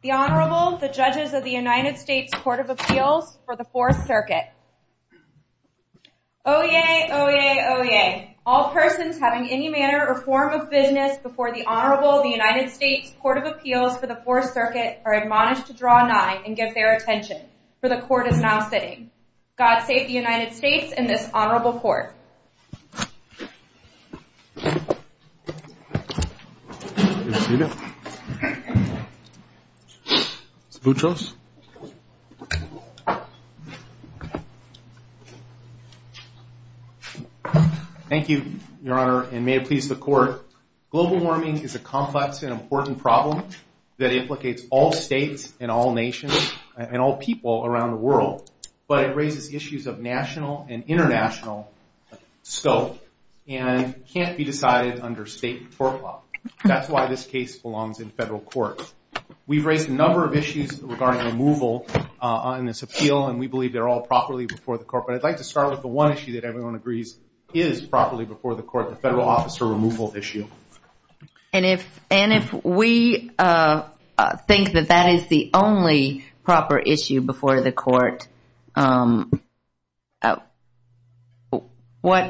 The Honorable, the Judges of the United States Court of Appeals for the Fourth Circuit. Oyez! Oyez! Oyez! All persons having any manner or form of business before the Honorable of the United States Court of Appeals for the Fourth Circuit are admonished to draw nine and give their attention, for the Court is now sitting. God save the United States and this Honorable Court. Thank you, Your Honor, and may it please the Court. Global warming is a complex and important problem that implicates all states and all nations and all people around the world, but it raises issues of national and international scope and can't be decided under state forecloth. That's why this case belongs in federal court. We've raised a number of issues regarding removal on this appeal and we believe they're all properly before the Court, but I'd like to start with the one issue that everyone agrees is properly before the Court, the Federal Officer Removal Issue. And if, and if we think that that is the only proper issue before the Court, what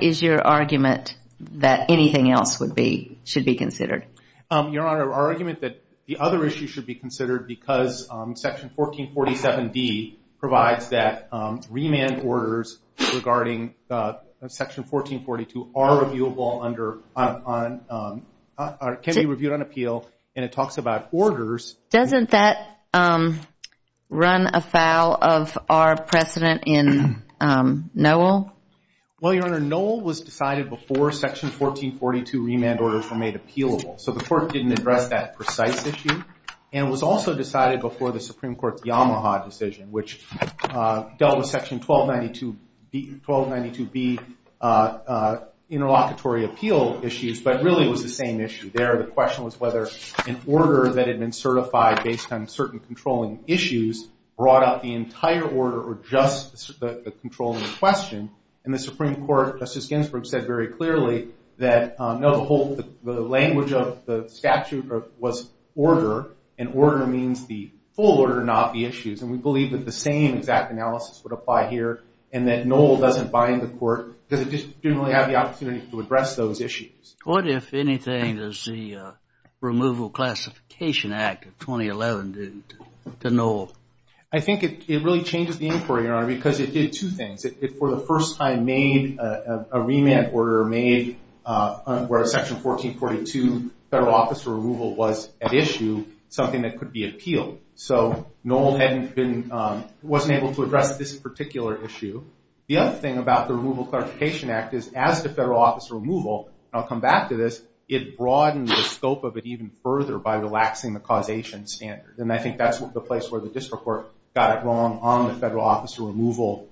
is your argument that anything else would be, should be considered? Your Honor, our argument that the other issue should be considered because Section 1447D provides that remand orders regarding Section 1442 are reviewable under, can be reviewed on appeal and it talks about orders. Doesn't that run afoul of our precedent in Noel? Well, Your Honor, Noel was decided before Section 1442 remand orders were made appealable, so the Court didn't address that precise issue and it was also decided before the Supreme Court, which dealt with Section 1292B interlocutory appeal issues, but really it was the same issue there. The question was whether an order that had been certified based on certain controlling issues brought up the entire order or just the controlling question. And the Supreme Court, Justice Ginsburg, said very clearly that no, the whole, the language of the statute was order and order means the full order, not the issues. And we believe that the same exact analysis would apply here and that Noel doesn't bind the Court because it just didn't really have the opportunity to address those issues. What, if anything, does the Removal Classification Act of 2011 do to Noel? I think it really changes the inquiry, Your Honor, because it did two things. It, for the first time, made a remand order made where Section 1442 Federal Office of Removal, so Noel hadn't been, wasn't able to address this particular issue. The other thing about the Removal Classification Act is, as the Federal Office of Removal, and I'll come back to this, it broadened the scope of it even further by relaxing the causation standards. And I think that's the place where the District Court got it wrong on the Federal Office of Removal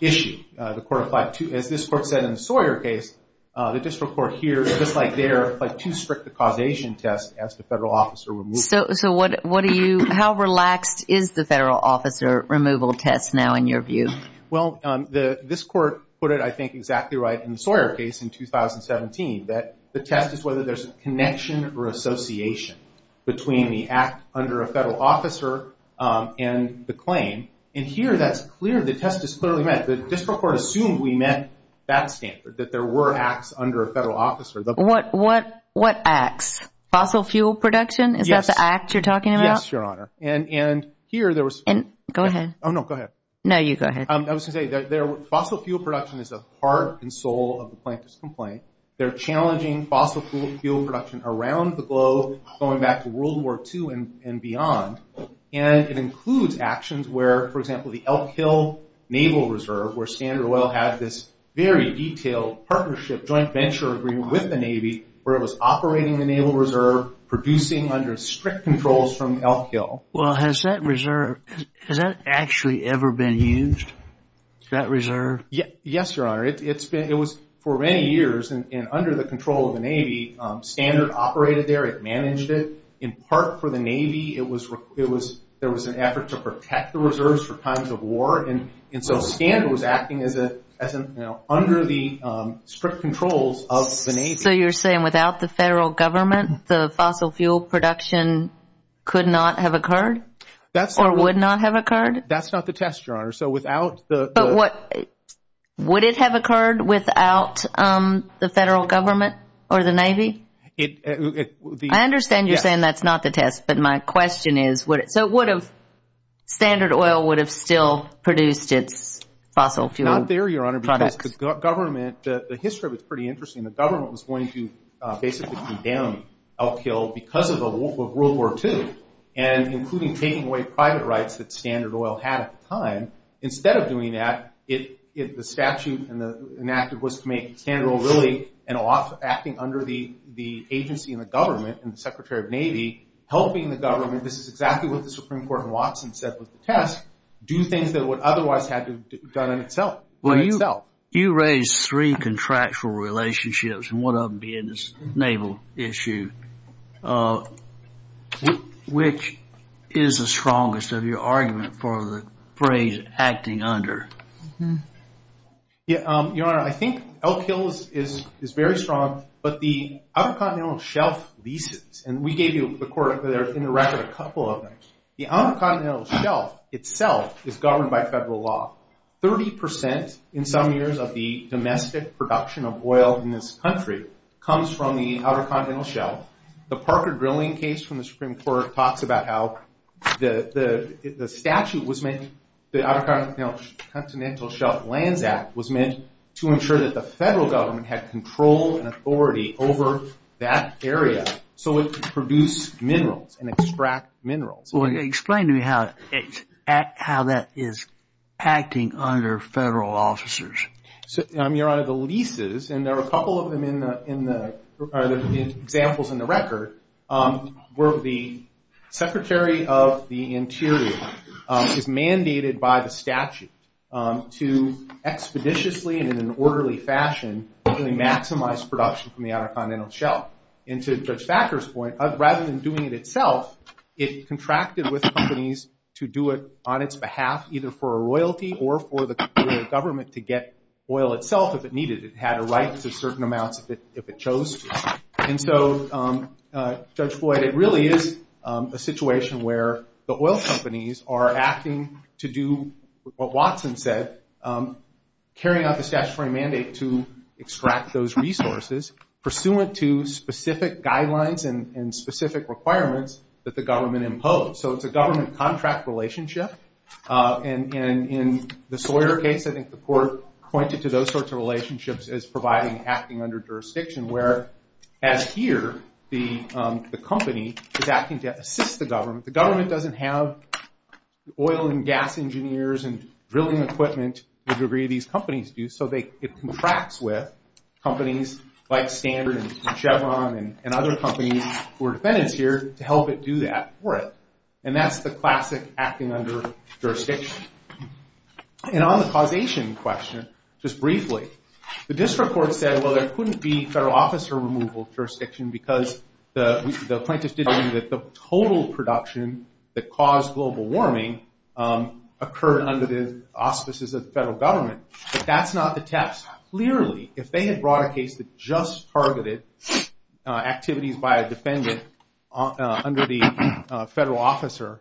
issue. The Court applied to, as this Court said in the Sawyer case, the District Court here, just like there, applied too strict a causation test as the Federal Office of Removal. So what do you, how relaxed is the Federal Office of Removal test now, in your view? Well, this Court put it, I think, exactly right in the Sawyer case in 2017, that the test is whether there's a connection or association between the act under a Federal Officer and the claim. And here, that's clear, the test is clearly met. The District Court assumed we met that standard, that there were acts under a Federal Officer. What acts? Fossil fuel production? Yes. Is that the act you're talking about? Yes, Your Honor. And here, there was... Go ahead. Oh, no, go ahead. No, you go ahead. I was going to say, fossil fuel production is a heart and soul of the plaintiff's complaint. They're challenging fossil fuel production around the globe, going back to World War II and beyond. And it includes actions where, for example, the Elk Hill Naval Reserve, where Standard Oil had this very detailed partnership, joint venture agreement with the Navy, where it was operating the Naval Reserve, producing under strict controls from Elk Hill. Well, has that reserve... Has that actually ever been used? That reserve? Yes, Your Honor. It's been... It was, for many years, and under the control of the Navy, Standard operated there. It managed it, in part, for the Navy. There was an effort to protect the reserves for times of war. And so, Standard was acting under the strict controls of the Navy. So, you're saying, without the federal government, the fossil fuel production could not have occurred? That's... Or would not have occurred? That's not the test, Your Honor. So, without the... But what... Would it have occurred without the federal government or the Navy? It... The... I understand you're saying that's not the test. Yes. But my question is, would it... So, would have... Standard Oil would have still produced its fossil fuel products? Not there, Your Honor. Because the government... The history of it's pretty interesting. The government was going to, basically, condemn Elk Hill because of World War II. And including taking away private rights that Standard Oil had at the time. Instead of doing that, the statute enacted was to make Standard Oil really an off... Acting under the agency and the government, and the Secretary of Navy, helping the government... This is exactly what the Supreme Court in Watson said was the test. Do things that it would otherwise have done in itself. In itself. You raised three contractual relationships, and one of them being this naval issue. Which is the strongest of your argument for the phrase, acting under? Your Honor, I think Elk Hill is very strong. But the Outer Continental Shelf leases... And we gave you the court there, in the record, a couple of them. The Outer Continental Shelf itself is governed by federal law. 30% in some years of the domestic production of oil in this country comes from the Outer Continental Shelf. The Parker drilling case from the Supreme Court talks about how the statute was meant... The Outer Continental Shelf Lands Act was meant to ensure that the federal government had control and authority over that area. So it could produce minerals and extract minerals. Explain to me how that is acting under federal officers. Your Honor, the leases, and there are a couple of them in the examples in the record, where the Secretary of the Interior is mandated by the statute to expeditiously and in an orderly fashion maximize production from the Outer Continental Shelf. And to Judge Thacker's point, rather than doing it itself, it contracted with companies to do it on its behalf, either for a royalty or for the government to get oil itself if it needed it. It had a right to certain amounts if it chose to. And so, Judge Floyd, it really is a situation where the oil companies are acting to do what Watson said, carrying out the statutory mandate to extract those resources, pursuant to specific guidelines and specific requirements that the government imposed. So it's a government contract relationship. And in the Sawyer case, I think the court pointed to those sorts of relationships as providing acting under jurisdiction, where, as here, the company is acting to assist the government. The government doesn't have oil and gas engineers and drilling equipment to the degree these companies do, so it contracts with companies like Standard and Chevron and other companies who are defendants here to help it do that for it. And that's the classic acting under jurisdiction. And on the causation question, just briefly, the district court said, well, there couldn't be federal officer removal jurisdiction because the plaintiff did argue that the total production that caused global warming occurred under the auspices of the federal government. But that's not the test. Clearly, if they had brought a case that just targeted activities by a defendant under the federal officer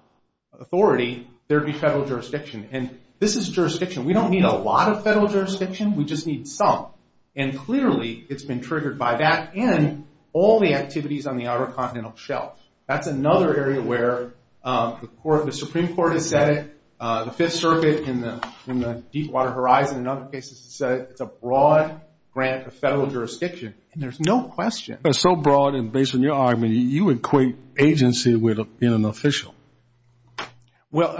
authority, there would be federal jurisdiction. And this is jurisdiction. We don't need a lot of federal jurisdiction. We just need some. And clearly, it's been triggered by that and all the activities on the outer continental shelf. That's another area where the Supreme Court has said it. The Fifth Circuit and the Deepwater Horizon and other cases have said it's a broad grant of federal jurisdiction. And there's no question. It's so broad, and based on your argument, you equate agency with being an official. Well,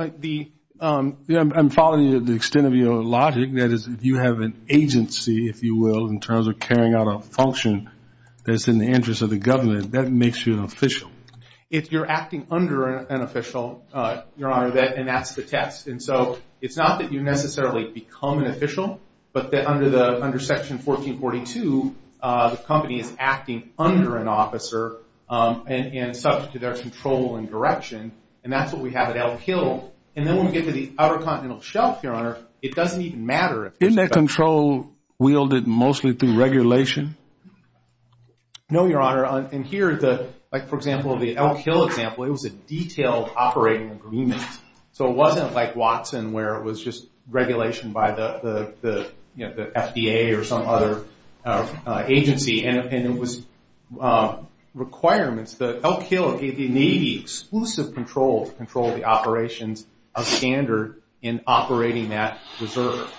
I'm following the extent of your logic. That is, you have an agency, if you will, in terms of carrying out a function that's in the interest of the government. That makes you an official. If you're acting under an official, Your Honor, and that's the test. And so it's not that you necessarily become an official, but that under Section 1442, the company is acting under an officer and subject to their control and direction. And that's what we have at Elk Hill. And then when we get to the outer continental shelf, Your Honor, it doesn't even matter. Isn't that control wielded mostly through regulation? No, Your Honor. And here, like, for example, the Elk Hill example, it was a detailed operating agreement. So it wasn't like Watson, where it was just regulation by the FDA or some other agency. And it was requirements that Elk Hill, the Navy, exclusive control to control the operations of standard in operating that reserve.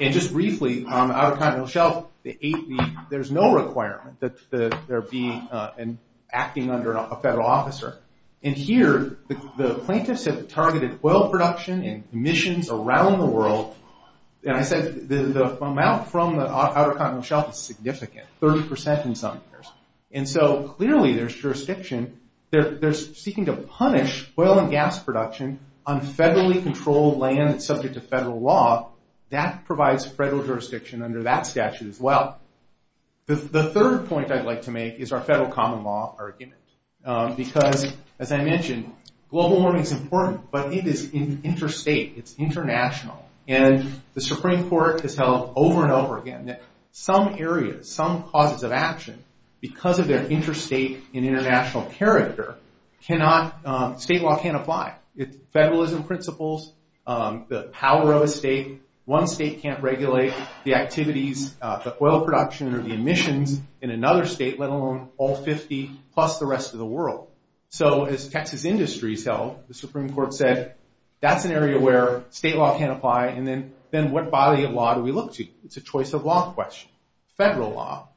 And just briefly, on the outer continental shelf, there's no requirement that there be an acting under a federal officer. And here, the plaintiffs have targeted oil production and emissions around the world. And I said the amount from the outer continental shelf is significant, 30% in some years. And so clearly there's jurisdiction. They're seeking to punish oil and gas production on federally controlled land that's subject to federal law. That provides federal jurisdiction under that statute as well. The third point I'd like to make is our federal common law argument. Because, as I mentioned, global warming is important, but it is interstate, it's international. And the Supreme Court has held over and over again that some areas, some causes of action, because of their interstate and international character, state law can't apply. Federalism principles, the power of a state, one state can't regulate the activities, the oil production or the emissions in another state, let alone all 50 plus the rest of the world. So as Texas Industries held, the Supreme Court said, that's an area where state law can't apply, and then what body of law do we look to? It's a choice of law question, federal law.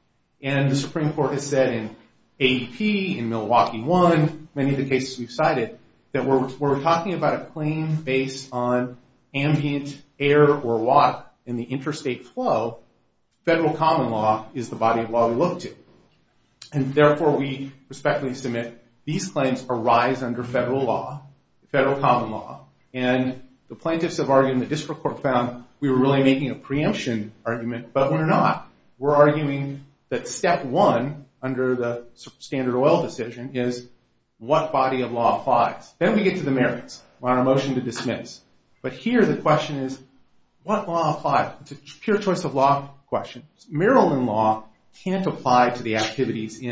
And the Supreme Court has said in ADP, in Milwaukee One, many of the cases we've cited, that we're talking about a claim based on ambient air or water in the interstate flow, federal common law is the body of law we look to. And therefore we respectfully submit, these claims arise under federal law, federal common law. And the plaintiffs have argued and the district court found we were really making a preemption argument, but we're not. We're arguing that step one, under the standard oil decision, is what body of law applies. Then we get to the merits. We're on a motion to dismiss. But here the question is, what law applies? It's a pure choice of law question. Maryland law can't apply to the activities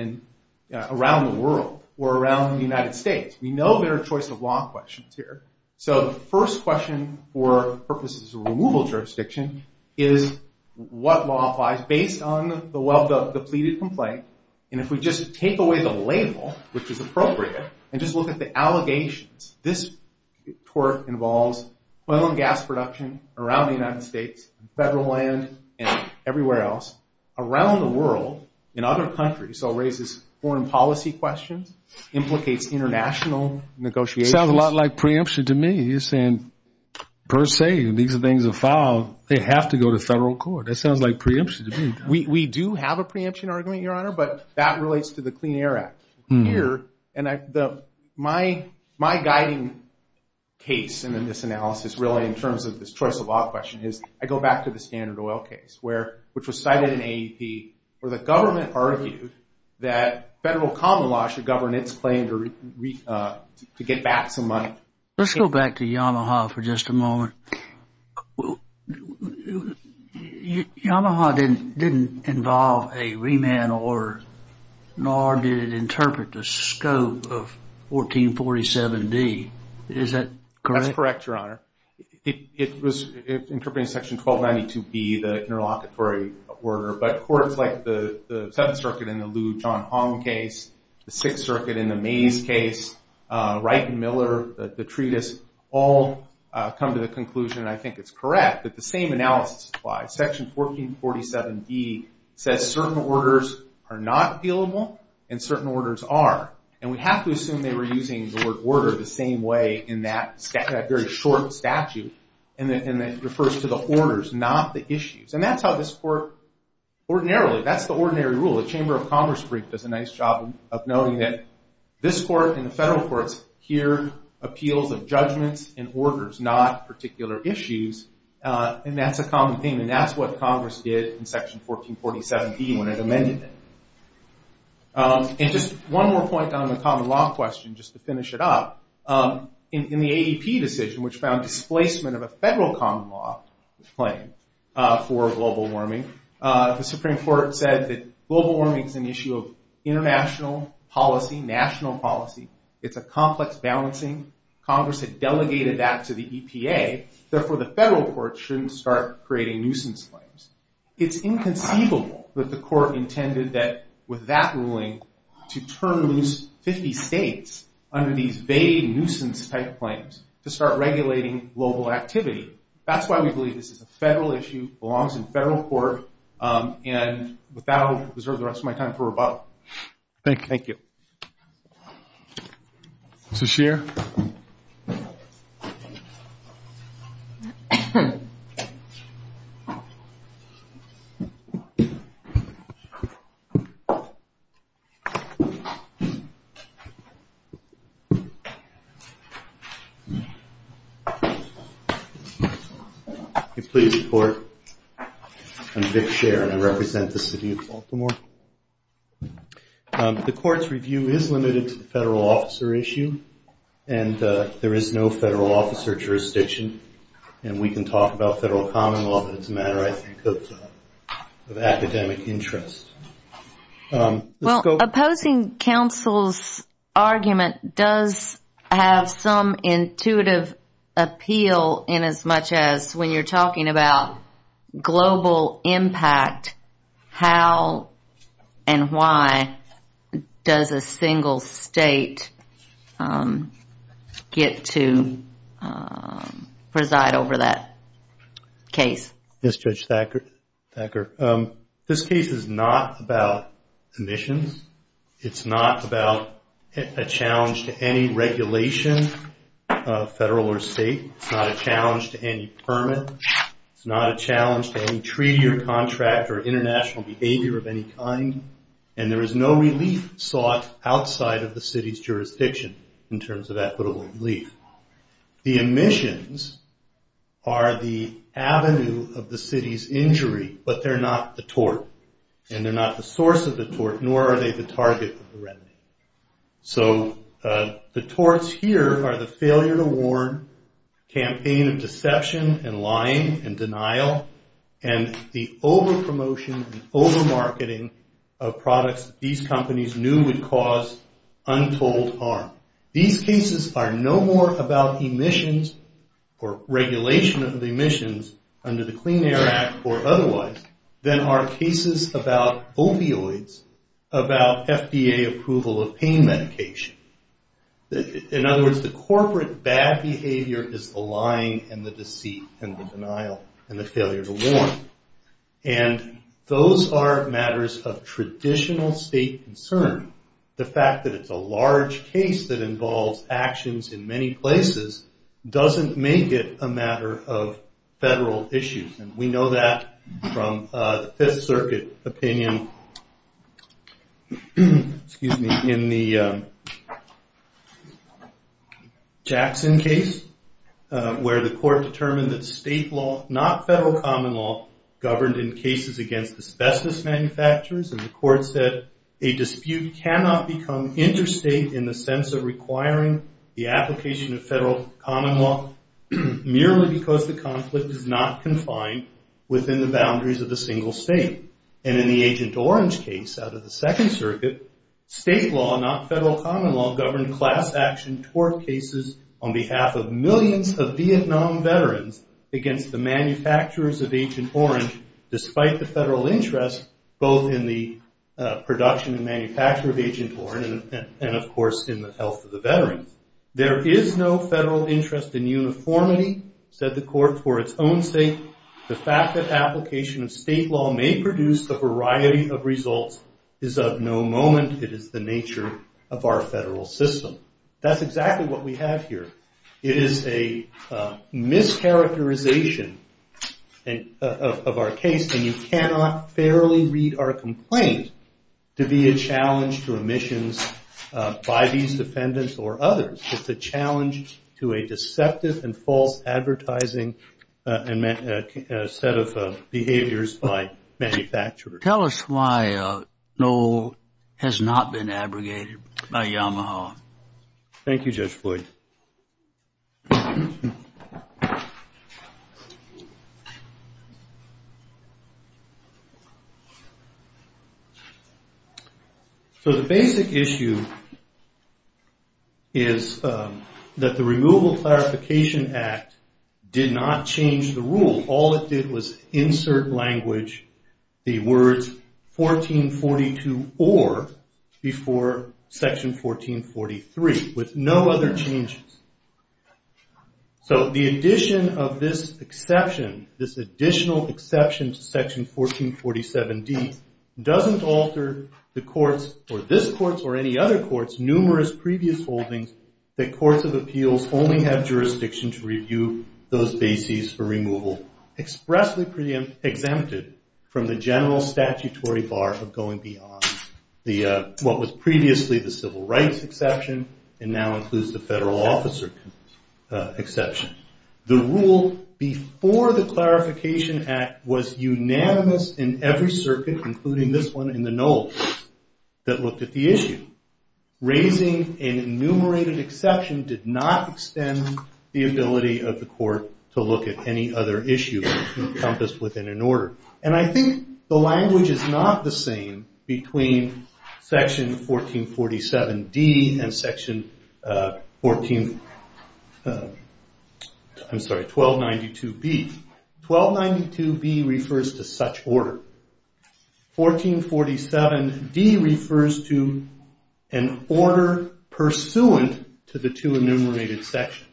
around the world or around the United States. We know there are choice of law questions here. So the first question for purposes of removal jurisdiction is what law applies, based on the well-depleted complaint. And if we just take away the label, which is appropriate, and just look at the allegations, this tort involves oil and gas production around the United States, federal land, and everywhere else, around the world, in other countries. So it raises foreign policy questions, implicates international negotiations. It sounds a lot like preemption to me. You're saying, per se, if these things are filed, they have to go to federal court. That sounds like preemption to me. We do have a preemption argument, Your Honor, but that relates to the Clean Air Act. Here, my guiding case in this analysis, really, in terms of this choice of law question, is I go back to the standard oil case, which was cited in AEP, where the government argued that federal common law should govern its claim to get back some money. Let's go back to Yamaha for just a moment. Yamaha didn't involve a remand order, nor did it interpret the scope of 1447D. Is that correct? That's correct, Your Honor. It was interpreting Section 1292B, the interlocutory order, but courts like the Seventh Circuit in the Lou John Hong case, the Sixth Circuit in the Mays case, Wright and Miller, the treatise, all come to the conclusion, and I think it's correct, that the same analysis applies. Section 1447D says certain orders are not appealable and certain orders are. And we have to assume they were using the word order the same way in that very short statute, and it refers to the orders, not the issues. And that's how this court, ordinarily, that's the ordinary rule. The Chamber of Congress brief does a nice job of noting that this court and the federal courts hear appeals of judgments and orders, not particular issues, and that's a common theme, and that's what Congress did in Section 1447D when it amended it. And just one more point on the common law question, just to finish it up. In the AEP decision, which found displacement of a federal common law claim for global warming, the Supreme Court said that global warming is an issue of international policy, national policy. It's a complex balancing. Congress had delegated that to the EPA. Therefore, the federal courts shouldn't start creating nuisance claims. It's inconceivable that the court intended that with that ruling to turn loose 50 states under these vague nuisance-type claims to start regulating global activity. That's why we believe this is a federal issue, belongs in federal court, and with that, I'll reserve the rest of my time for rebuttal. Thank you. Mr. Scheer? Please report. I'm Vic Scheer, and I represent the city of Baltimore. The court's review is limited to the federal officer issue, and there is no federal officer jurisdiction, and we can talk about federal common law, but it's a matter, I think, of academic interest. Well, opposing counsel's argument does have some intuitive appeal in as much as when you're talking about global impact, how and why does a single state get to preside over that case? Yes, Judge Thacker. This case is not about emissions. It's not about a challenge to any regulation, federal or state. It's not a challenge to any permit. It's not a challenge to any treaty or contract or international behavior of any kind, and there is no relief sought outside of the city's jurisdiction in terms of equitable relief. The emissions are the avenue of the city's injury, but they're not the tort, and they're not the source of the tort, nor are they the target of the remedy. So the torts here are the failure to warn, campaign of deception and lying and denial, and the overpromotion and overmarketing of products these companies knew would cause untold harm. These cases are no more about emissions or regulation of emissions under the Clean Air Act or otherwise than are cases about opioids, about FDA approval of pain medication. In other words, the corporate bad behavior is the lying and the deceit and the denial and the failure to warn, and those are matters of traditional state concern. The fact that it's a large case that involves actions in many places doesn't make it a matter of federal issues, and we know that from the Fifth Circuit opinion in the Jackson case where the court determined that state law, not federal common law, governed in cases against asbestos manufacturers, and the court said a dispute cannot become interstate in the sense of requiring the application of federal common law merely because the conflict is not confined within the boundaries of a single state. And in the Agent Orange case out of the Second Circuit, state law, not federal common law, governed class action tort cases on behalf of millions of Vietnam veterans against the manufacturers of Agent Orange despite the federal interest both in the production and manufacture of Agent Orange and of course in the health of the veterans. There is no federal interest in uniformity, said the court, for its own sake. The fact that application of state law may produce a variety of results is of no moment. It is the nature of our federal system. That's exactly what we have here. It is a mischaracterization of our case, and you cannot fairly read our complaint to be a challenge to omissions by these defendants or others. It's a challenge to a deceptive and false advertising set of behaviors by manufacturers. Tell us why Noel has not been abrogated by Yamaha. Thank you, Judge Floyd. So the basic issue is that the Removal Clarification Act did not change the rule. All it did was insert language, the words 1442 or before Section 1443 with no other changes. So the addition of this exception, this additional exception to Section 1447D, doesn't alter the courts or this court or any other courts' numerous previous holdings that courts of appeals only have jurisdiction to review those bases for removal expressly exempted from the general statutory bar of going beyond what was previously the civil rights exception and now includes the federal officer exception. The rule before the Clarification Act was unanimous in every circuit, including this one in the Noel case, that looked at the issue. Raising an enumerated exception did not extend the ability of the court to look at any other issue encompassed within an order. And I think the language is not the same between Section 1447D and Section 1292B. 1292B refers to such order. 1447D refers to an order pursuant to the two enumerated sections.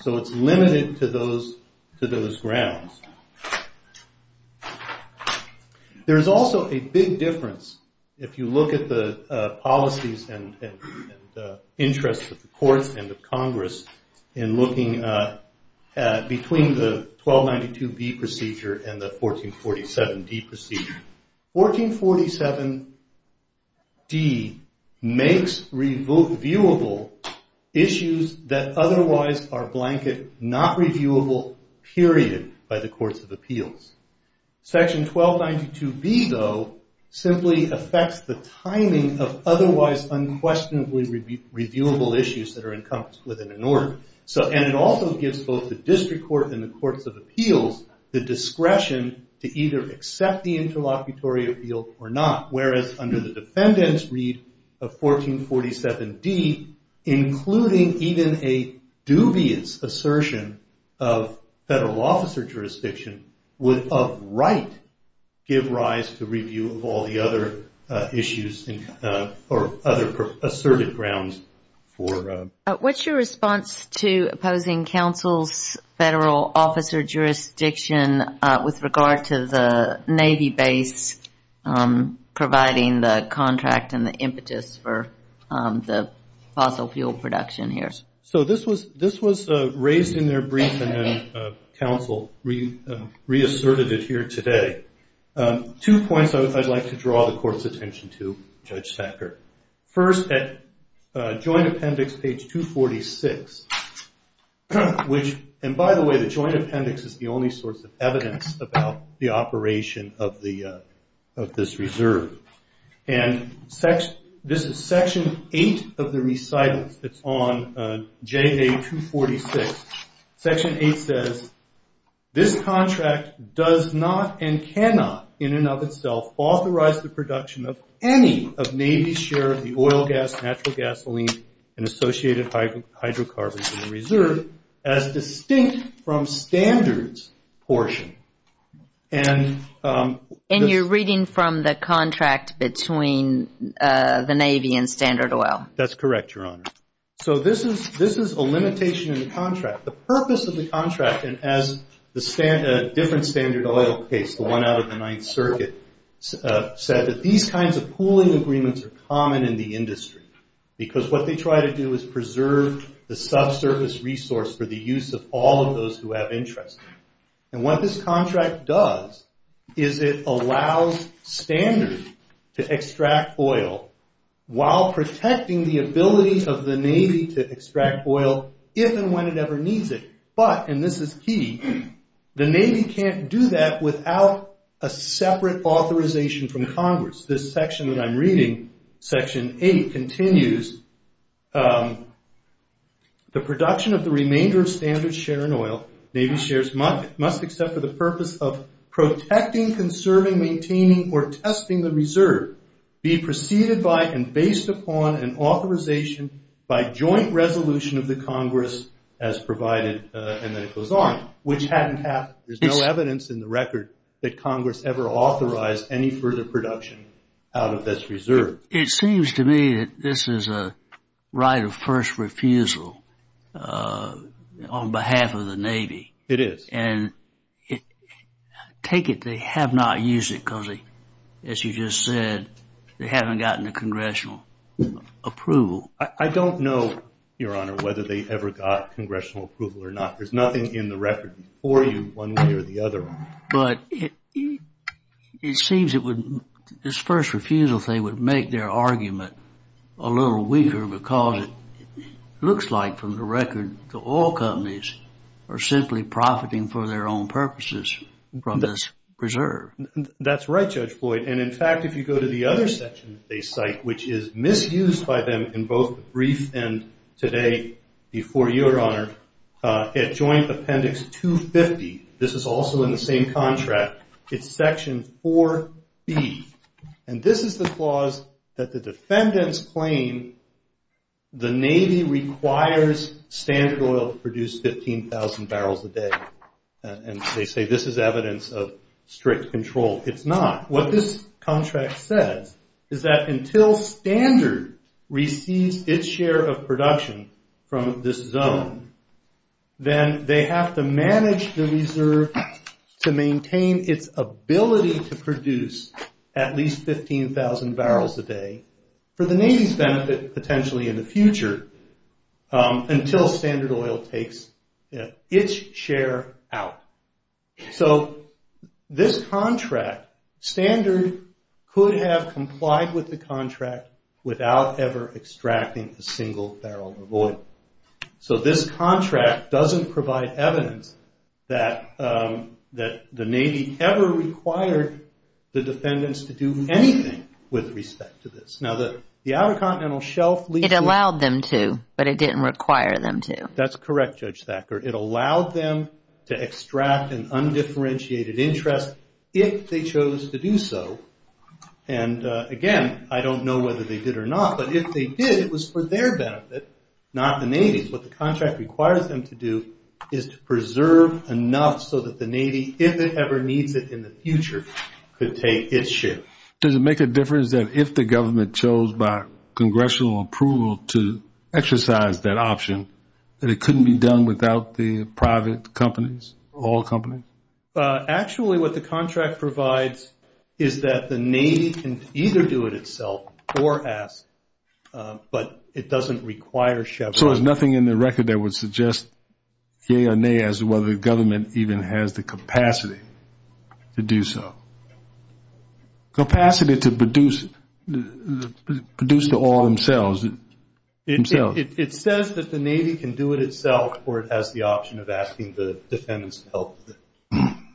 So it's limited to those grounds. There's also a big difference if you look at the policies and interests of the courts and of Congress in looking between the 1292B procedure and the 1447D procedure. 1447D makes reviewable issues that otherwise are blanket not reviewable, period, by the courts of appeals. Section 1292B, though, simply affects the timing of otherwise unquestionably reviewable issues that are encompassed within an order. And it also gives both the district court and the courts of appeals the discretion to either accept the interlocutory appeal or not, whereas under the defendant's read of 1447D, including even a dubious assertion of federal officer jurisdiction, would, of right, give rise to review of all the other issues or other asserted grounds for... What's your response to opposing counsel's federal officer jurisdiction with regard to the Navy base providing the contract and the impetus for the fossil fuel production here? So this was raised in their brief and then counsel reasserted it here today. Two points I'd like to draw the court's attention to, Judge Sacker. First, at joint appendix page 246, which... And by the way, the joint appendix is the only source of evidence about the operation of this reserve. And this is section 8 of the recitals. It's on JA246. Section 8 says, this contract does not and cannot in and of itself authorize the production of any of Navy's share of the oil, gas, natural gasoline, and associated hydrocarbons in the reserve, as distinct from standards portion. And you're reading from the contract between the Navy and Standard Oil. That's correct, Your Honor. So this is a limitation in the contract. The purpose of the contract, and as a different Standard Oil case, the one out of the Ninth Circuit, said that these kinds of pooling agreements are common in the industry because what they try to do is preserve the subsurface resource for the use of all of those who have interest. And what this contract does is it allows Standard to extract oil while protecting the ability of the Navy to extract oil if and when it ever needs it. But, and this is key, the Navy can't do that without a separate authorization from Congress. This section that I'm reading, section 8, continues, the production of the remainder of Standard's share in oil, Navy shares must accept for the purpose of protecting, conserving, maintaining, or testing the reserve be preceded by and based upon an authorization by joint resolution of the Congress as provided, and then it goes on, which hadn't happened. There's no evidence in the record that Congress ever authorized any further production out of this reserve. It seems to me that this is a right of first refusal on behalf of the Navy. It is. And take it they have not used it because, as you just said, they haven't gotten the Congressional approval. I don't know, Your Honor, whether they ever got Congressional approval or not. There's nothing in the record before you one way or the other. But it seems it would, this first refusal thing would make their argument a little weaker because it looks like, from the record, the oil companies are simply profiting for their own purposes from this reserve. That's right, Judge Floyd. And, in fact, if you go to the other section that they cite, which is misused by them in both the brief and today before you, Your Honor, at Joint Appendix 250, this is also in the same contract. It's section 4B. And this is the clause that the defendants claim the Navy requires Standard Oil to produce 15,000 barrels a day. And they say this is evidence of strict control. It's not. What this contract says is that until Standard receives its share of production from this zone, then they have to manage the reserve to maintain its ability to produce at least 15,000 barrels a day for the Navy's benefit, potentially in the future, until Standard Oil takes its share out. So this contract, Standard could have complied with the contract without ever extracting a single barrel of oil. So this contract doesn't provide evidence that the Navy ever required the defendants to do anything with respect to this. Now, the Outer Continental Shelf lease was- It allowed them to, but it didn't require them to. That's correct, Judge Thacker. It allowed them to extract an undifferentiated interest if they chose to do so. And, again, I don't know whether they did or not, but if they did, it was for their benefit, not the Navy's. What the contract requires them to do is to preserve enough so that the Navy, if it ever needs it in the future, could take its share. Does it make a difference that if the government chose by congressional approval to exercise that option, that it couldn't be done without the private companies, oil companies? Actually, what the contract provides is that the Navy can either do it itself or ask, but it doesn't require- So there's nothing in the record that would suggest, yea or nay, as to whether the government even has the capacity to do so. Capacity to produce the oil themselves. It says that the Navy can do it itself or it has the option of asking the defendants to help with it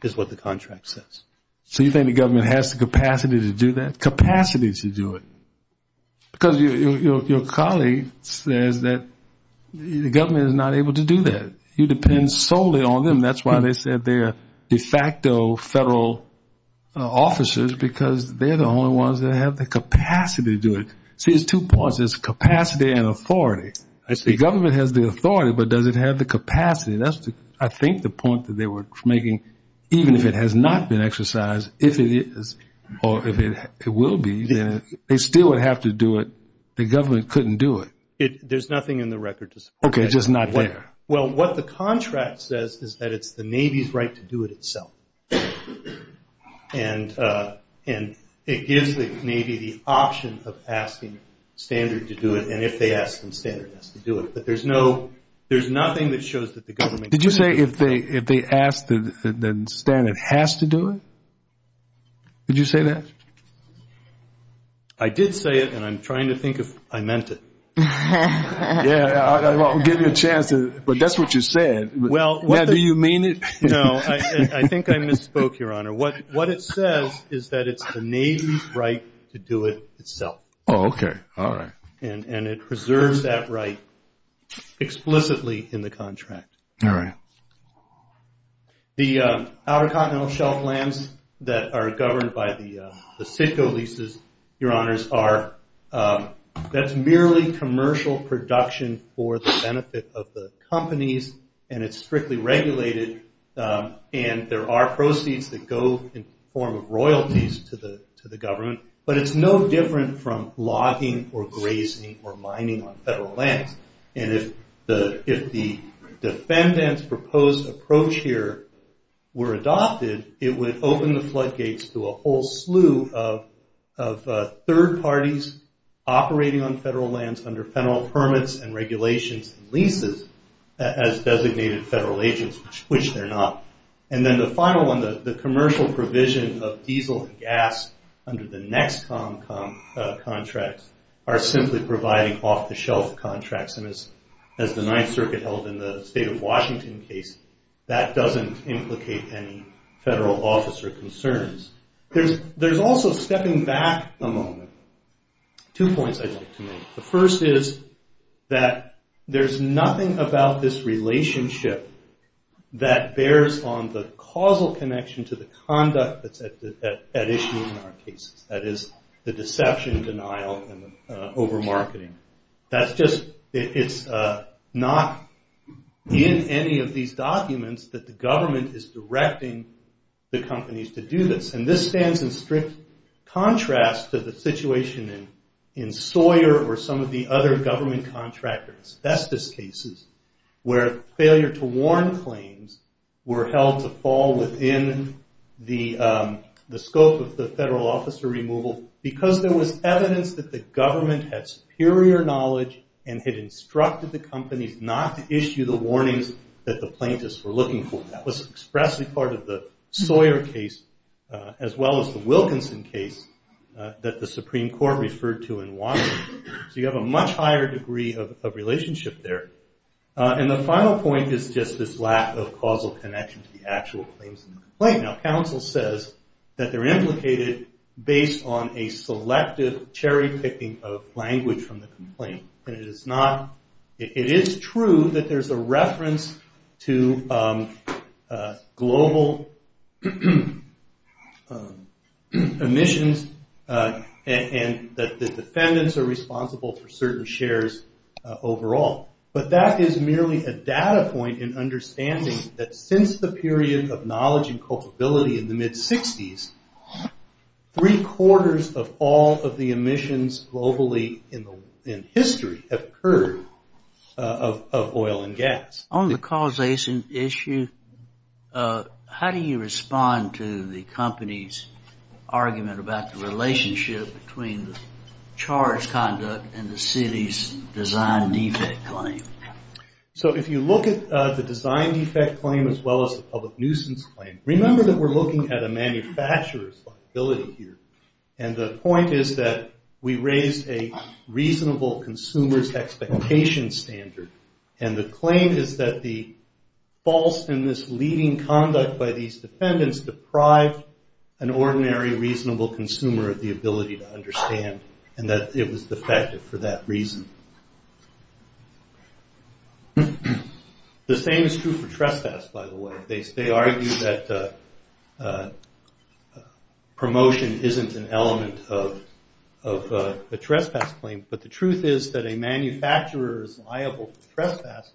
is what the contract says. So you think the government has the capacity to do that? Capacity to do it. Because your colleague says that the government is not able to do that. It depends solely on them. That's why they said they're de facto federal officers, because they're the only ones that have the capacity to do it. See, there's two points. There's capacity and authority. The government has the authority, but does it have the capacity? That's, I think, the point that they were making. Even if it has not been exercised, if it is or if it will be, then they still would have to do it. The government couldn't do it. There's nothing in the record to say that. Okay, just not there. Well, what the contract says is that it's the Navy's right to do it itself. And it gives the Navy the option of asking Standard to do it, and if they ask them, Standard has to do it. But there's nothing that shows that the government- Did you say if they ask that Standard has to do it? Did you say that? I did say it, and I'm trying to think if I meant it. Yeah, I'll give you a chance to-but that's what you said. Yeah, do you mean it? No, I think I misspoke, Your Honor. What it says is that it's the Navy's right to do it itself. Oh, okay. All right. And it preserves that right explicitly in the contract. All right. The Outer Continental Shelf lands that are governed by the CITCO leases, Your Honors, that's merely commercial production for the benefit of the companies, and it's strictly regulated, and there are proceeds that go in the form of royalties to the government. But it's no different from logging or grazing or mining on federal lands. And if the defendant's proposed approach here were adopted, it would open the floodgates to a whole slew of third parties operating on federal lands under federal permits and regulations and leases as designated federal agents, which they're not. And then the final one, the commercial provision of diesel and gas under the NEXTCOM contracts are simply providing off-the-shelf contracts. And as the Ninth Circuit held in the State of Washington case, that doesn't implicate any federal officer concerns. There's also stepping back a moment, two points I'd like to make. The first is that there's nothing about this relationship that bears on the causal connection to the conduct that's at issue in our cases, that is the deception, denial, and over-marketing. That's just, it's not in any of these documents that the government is directing the companies to do this. And this stands in strict contrast to the situation in Sawyer or some of the other government contractors. That's just cases where failure to warn claims were held to fall within the scope of the federal officer removal because there was evidence that the government had superior knowledge and had instructed the companies not to issue the warnings that the plaintiffs were looking for. That was expressly part of the Sawyer case as well as the Wilkinson case that the Supreme Court referred to in Washington. So you have a much higher degree of relationship there. And the final point is just this lack of causal connection to the actual claims in the complaint. Now, counsel says that they're implicated based on a selective cherry-picking of language from the complaint. It is true that there's a reference to global emissions and that the defendants are responsible for certain shares overall. But that is merely a data point in understanding that since the period of knowledge and culpability in the mid-60s, three-quarters of all of the emissions globally in history have occurred of oil and gas. On the causation issue, how do you respond to the company's argument about the relationship between the charge conduct and the city's design defect claim? So if you look at the design defect claim as well as the public nuisance claim, remember that we're looking at a manufacturer's liability here. And the point is that we raised a reasonable consumer's expectation standard. And the claim is that the false in this leading conduct by these defendants deprived an ordinary reasonable consumer of the ability to understand and that it was defective for that reason. The same is true for trespass, by the way. They argue that promotion isn't an element of a trespass claim. But the truth is that a manufacturer is liable for trespass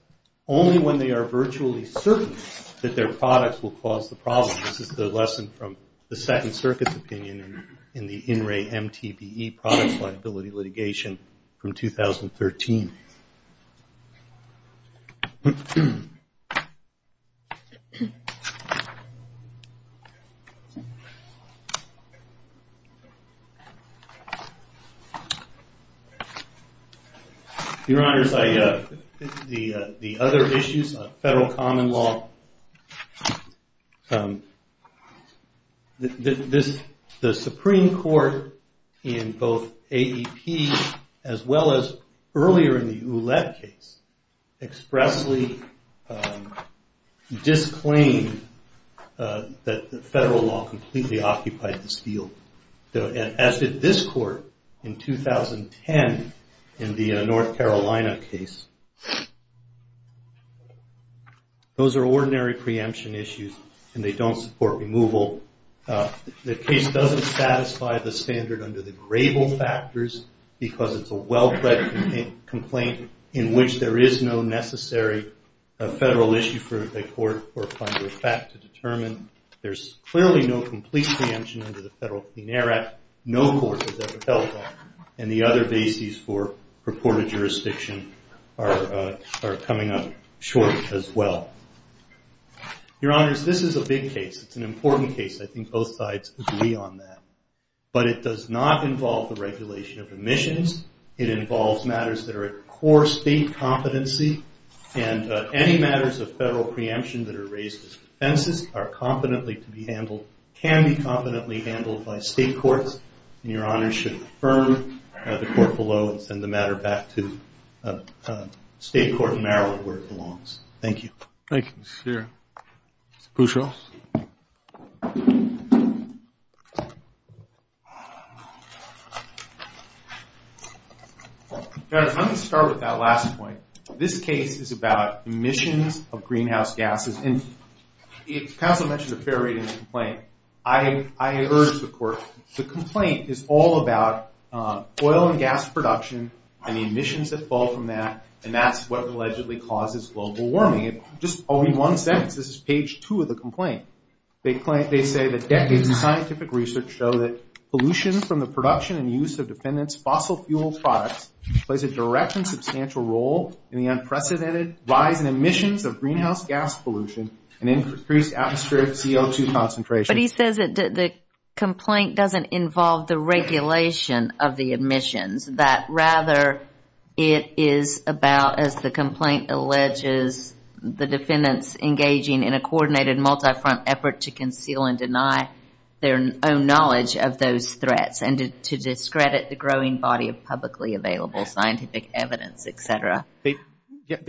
only when they are virtually certain that their products will cause the problem. This is the lesson from the Second Circuit's opinion in the In Re MTBE Products Liability Litigation from 2013. Your Honors, the other issues of federal common law, the Supreme Court in both disclaimed that the federal law completely occupied this field. As did this court in 2010 in the North Carolina case. Those are ordinary preemption issues and they don't support removal. The case doesn't satisfy the standard under the grable factors because it's a well-read complaint in which there is no necessary federal issue for a court or a funder of fact to determine. There's clearly no complete preemption under the Federal Clean Air Act. No court has ever held that. And the other bases for purported jurisdiction are coming up short as well. Your Honors, this is a big case. It's an important case. I think both sides agree on that. But it does not involve the regulation of emissions. It involves matters that are at core state competency and any matters of federal preemption that are raised as offenses are competently to be handled, can be competently handled by state courts. And Your Honors should affirm the court below and send the matter back to state court in Maryland where it belongs. Thank you. Thank you, Mr. Shearer. Mr. Boucher. Your Honors, I'm going to start with that last point. This case is about emissions of greenhouse gases. And the counsel mentioned a fair reading of the complaint. I urge the court, the complaint is all about oil and gas production and the emissions that fall from that. And that's what allegedly causes global warming. Just only one sentence, this is page two of the complaint. They say that decades of scientific research show that pollution from the production and use of defendant's fossil fuel products plays a direct and substantial role in the unprecedented rise in emissions of greenhouse gas pollution and increased atmospheric CO2 concentration. But he says that the complaint doesn't involve the regulation of the emissions. That rather it is about, as the complaint alleges, the defendants engaging in a coordinated multi-front effort to conceal and deny their own knowledge of those threats and to discredit the growing body of publicly available scientific evidence, et cetera. They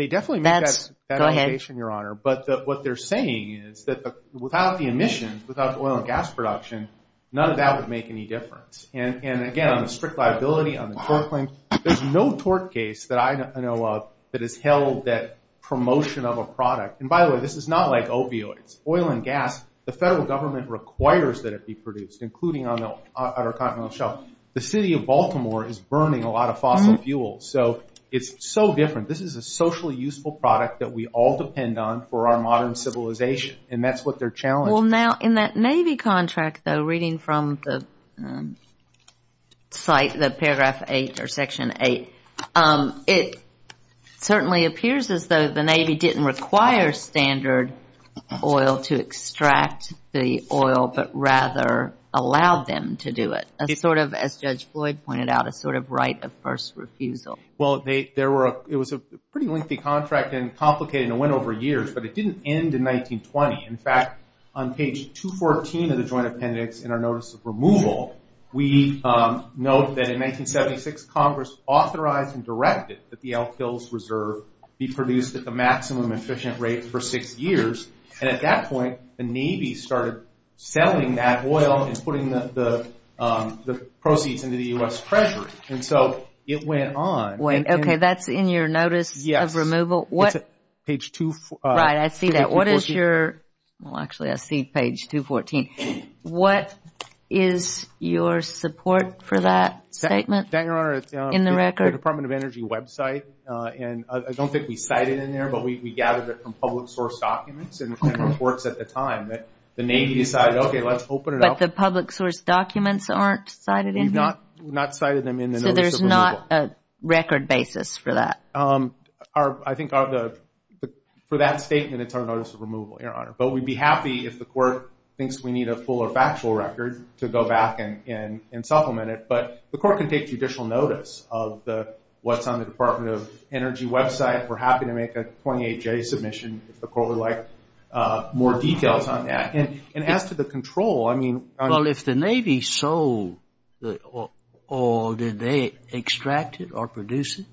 definitely make that allegation, Your Honor. But what they're saying is that without the emissions, without the oil and gas production, none of that would make any difference. And, again, on the strict liability, on the tort claim, there's no tort case that I know of that has held that promotion of a product. And, by the way, this is not like opioids. Oil and gas, the federal government requires that it be produced, including on our continental shelf. The city of Baltimore is burning a lot of fossil fuels. So it's so different. This is a socially useful product that we all depend on for our modern civilization. And that's what they're challenging. Well, now, in that Navy contract, though, reading from the site, the Paragraph 8 or Section 8, it certainly appears as though the Navy didn't require standard oil to extract the oil but rather allowed them to do it, sort of as Judge Floyd pointed out, a sort of right of first refusal. Well, it was a pretty lengthy contract and complicated and went over years. But it didn't end in 1920. In fact, on page 214 of the Joint Appendix in our Notice of Removal, we note that in 1976 Congress authorized and directed that the Elk Hills Reserve be produced at the maximum efficient rate for six years. And at that point the Navy started selling that oil and putting the proceeds into the U.S. Treasury. And so it went on. Wait, okay, that's in your Notice of Removal? Yes. It's page 244. Right, I see that. Well, actually, I see page 214. What is your support for that statement? Your Honor, it's in the Department of Energy website. And I don't think we cited it in there, but we gathered it from public source documents and reports at the time. The Navy decided, okay, let's open it up. But the public source documents aren't cited in here? We've not cited them in the Notice of Removal. So there's not a record basis for that? I think for that statement it's our Notice of Removal, Your Honor. But we'd be happy if the court thinks we need a fuller factual record to go back and supplement it. But the court can take judicial notice of what's on the Department of Energy website. We're happy to make a 28-J submission if the court would like more details on that. And as to the control, I mean – Well, if the Navy sold the oil, did they extract it or produce it?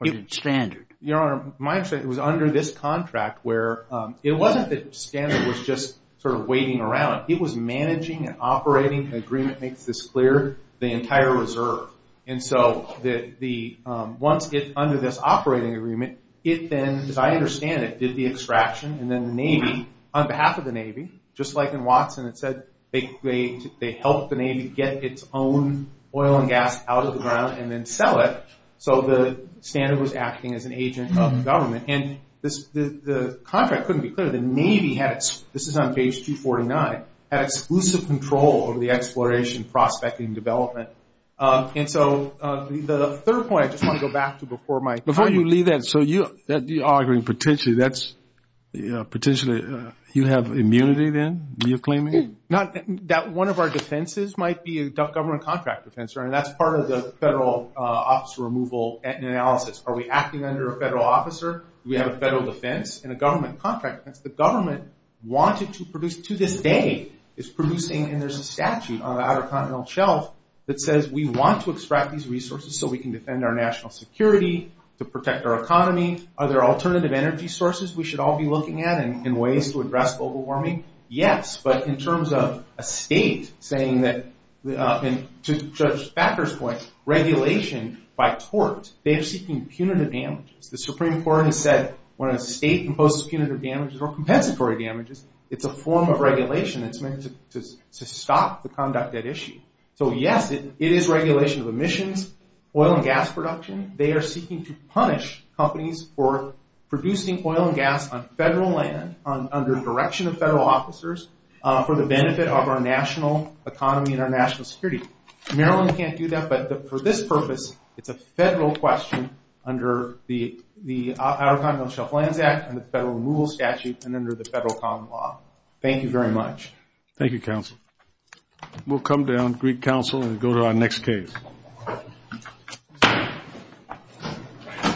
Or did Standard? Your Honor, my understanding, it was under this contract where it wasn't that Standard was just sort of waiting around. It was managing and operating an agreement, makes this clear, the entire reserve. And so once it's under this operating agreement, it then, as I understand it, did the extraction. And then the Navy, on behalf of the Navy, just like in Watson, it said they helped the Navy get its own oil and gas out of the ground and then sell it. So the Standard was acting as an agent of the government. And the contract couldn't be clearer. The Navy had – this is on page 249 – had exclusive control over the exploration, prospecting, and development. And so the third point I just want to go back to before my – Before you leave that, so you're arguing potentially that's – you have immunity then, you're claiming? That one of our defenses might be a government contract defense. And that's part of the federal officer removal analysis. Are we acting under a federal officer? Do we have a federal defense and a government contract? The government wanted to produce – to this day is producing – and there's a statute on the Outer Continental Shelf that says we want to extract these resources so we can defend our national security, to protect our economy. Are there alternative energy sources we should all be looking at and ways to address global warming? Yes. But in terms of a state saying that – and to Judge Backer's point, regulation by tort, they are seeking punitive damages. The Supreme Court has said when a state imposes punitive damages or compensatory damages, it's a form of regulation. It's meant to stop the conduct at issue. So, yes, it is regulation of emissions, oil and gas production. They are seeking to punish companies for producing oil and gas on federal land under direction of federal officers for the benefit of our national economy and our national security. Maryland can't do that, but for this purpose, it's a federal question under the Outer Continental Shelf Lands Act and the Federal Removal Statute and under the Federal Common Law. Thank you very much. Thank you, Counsel. We'll come down, Greek Council, and go to our next case. Thank you.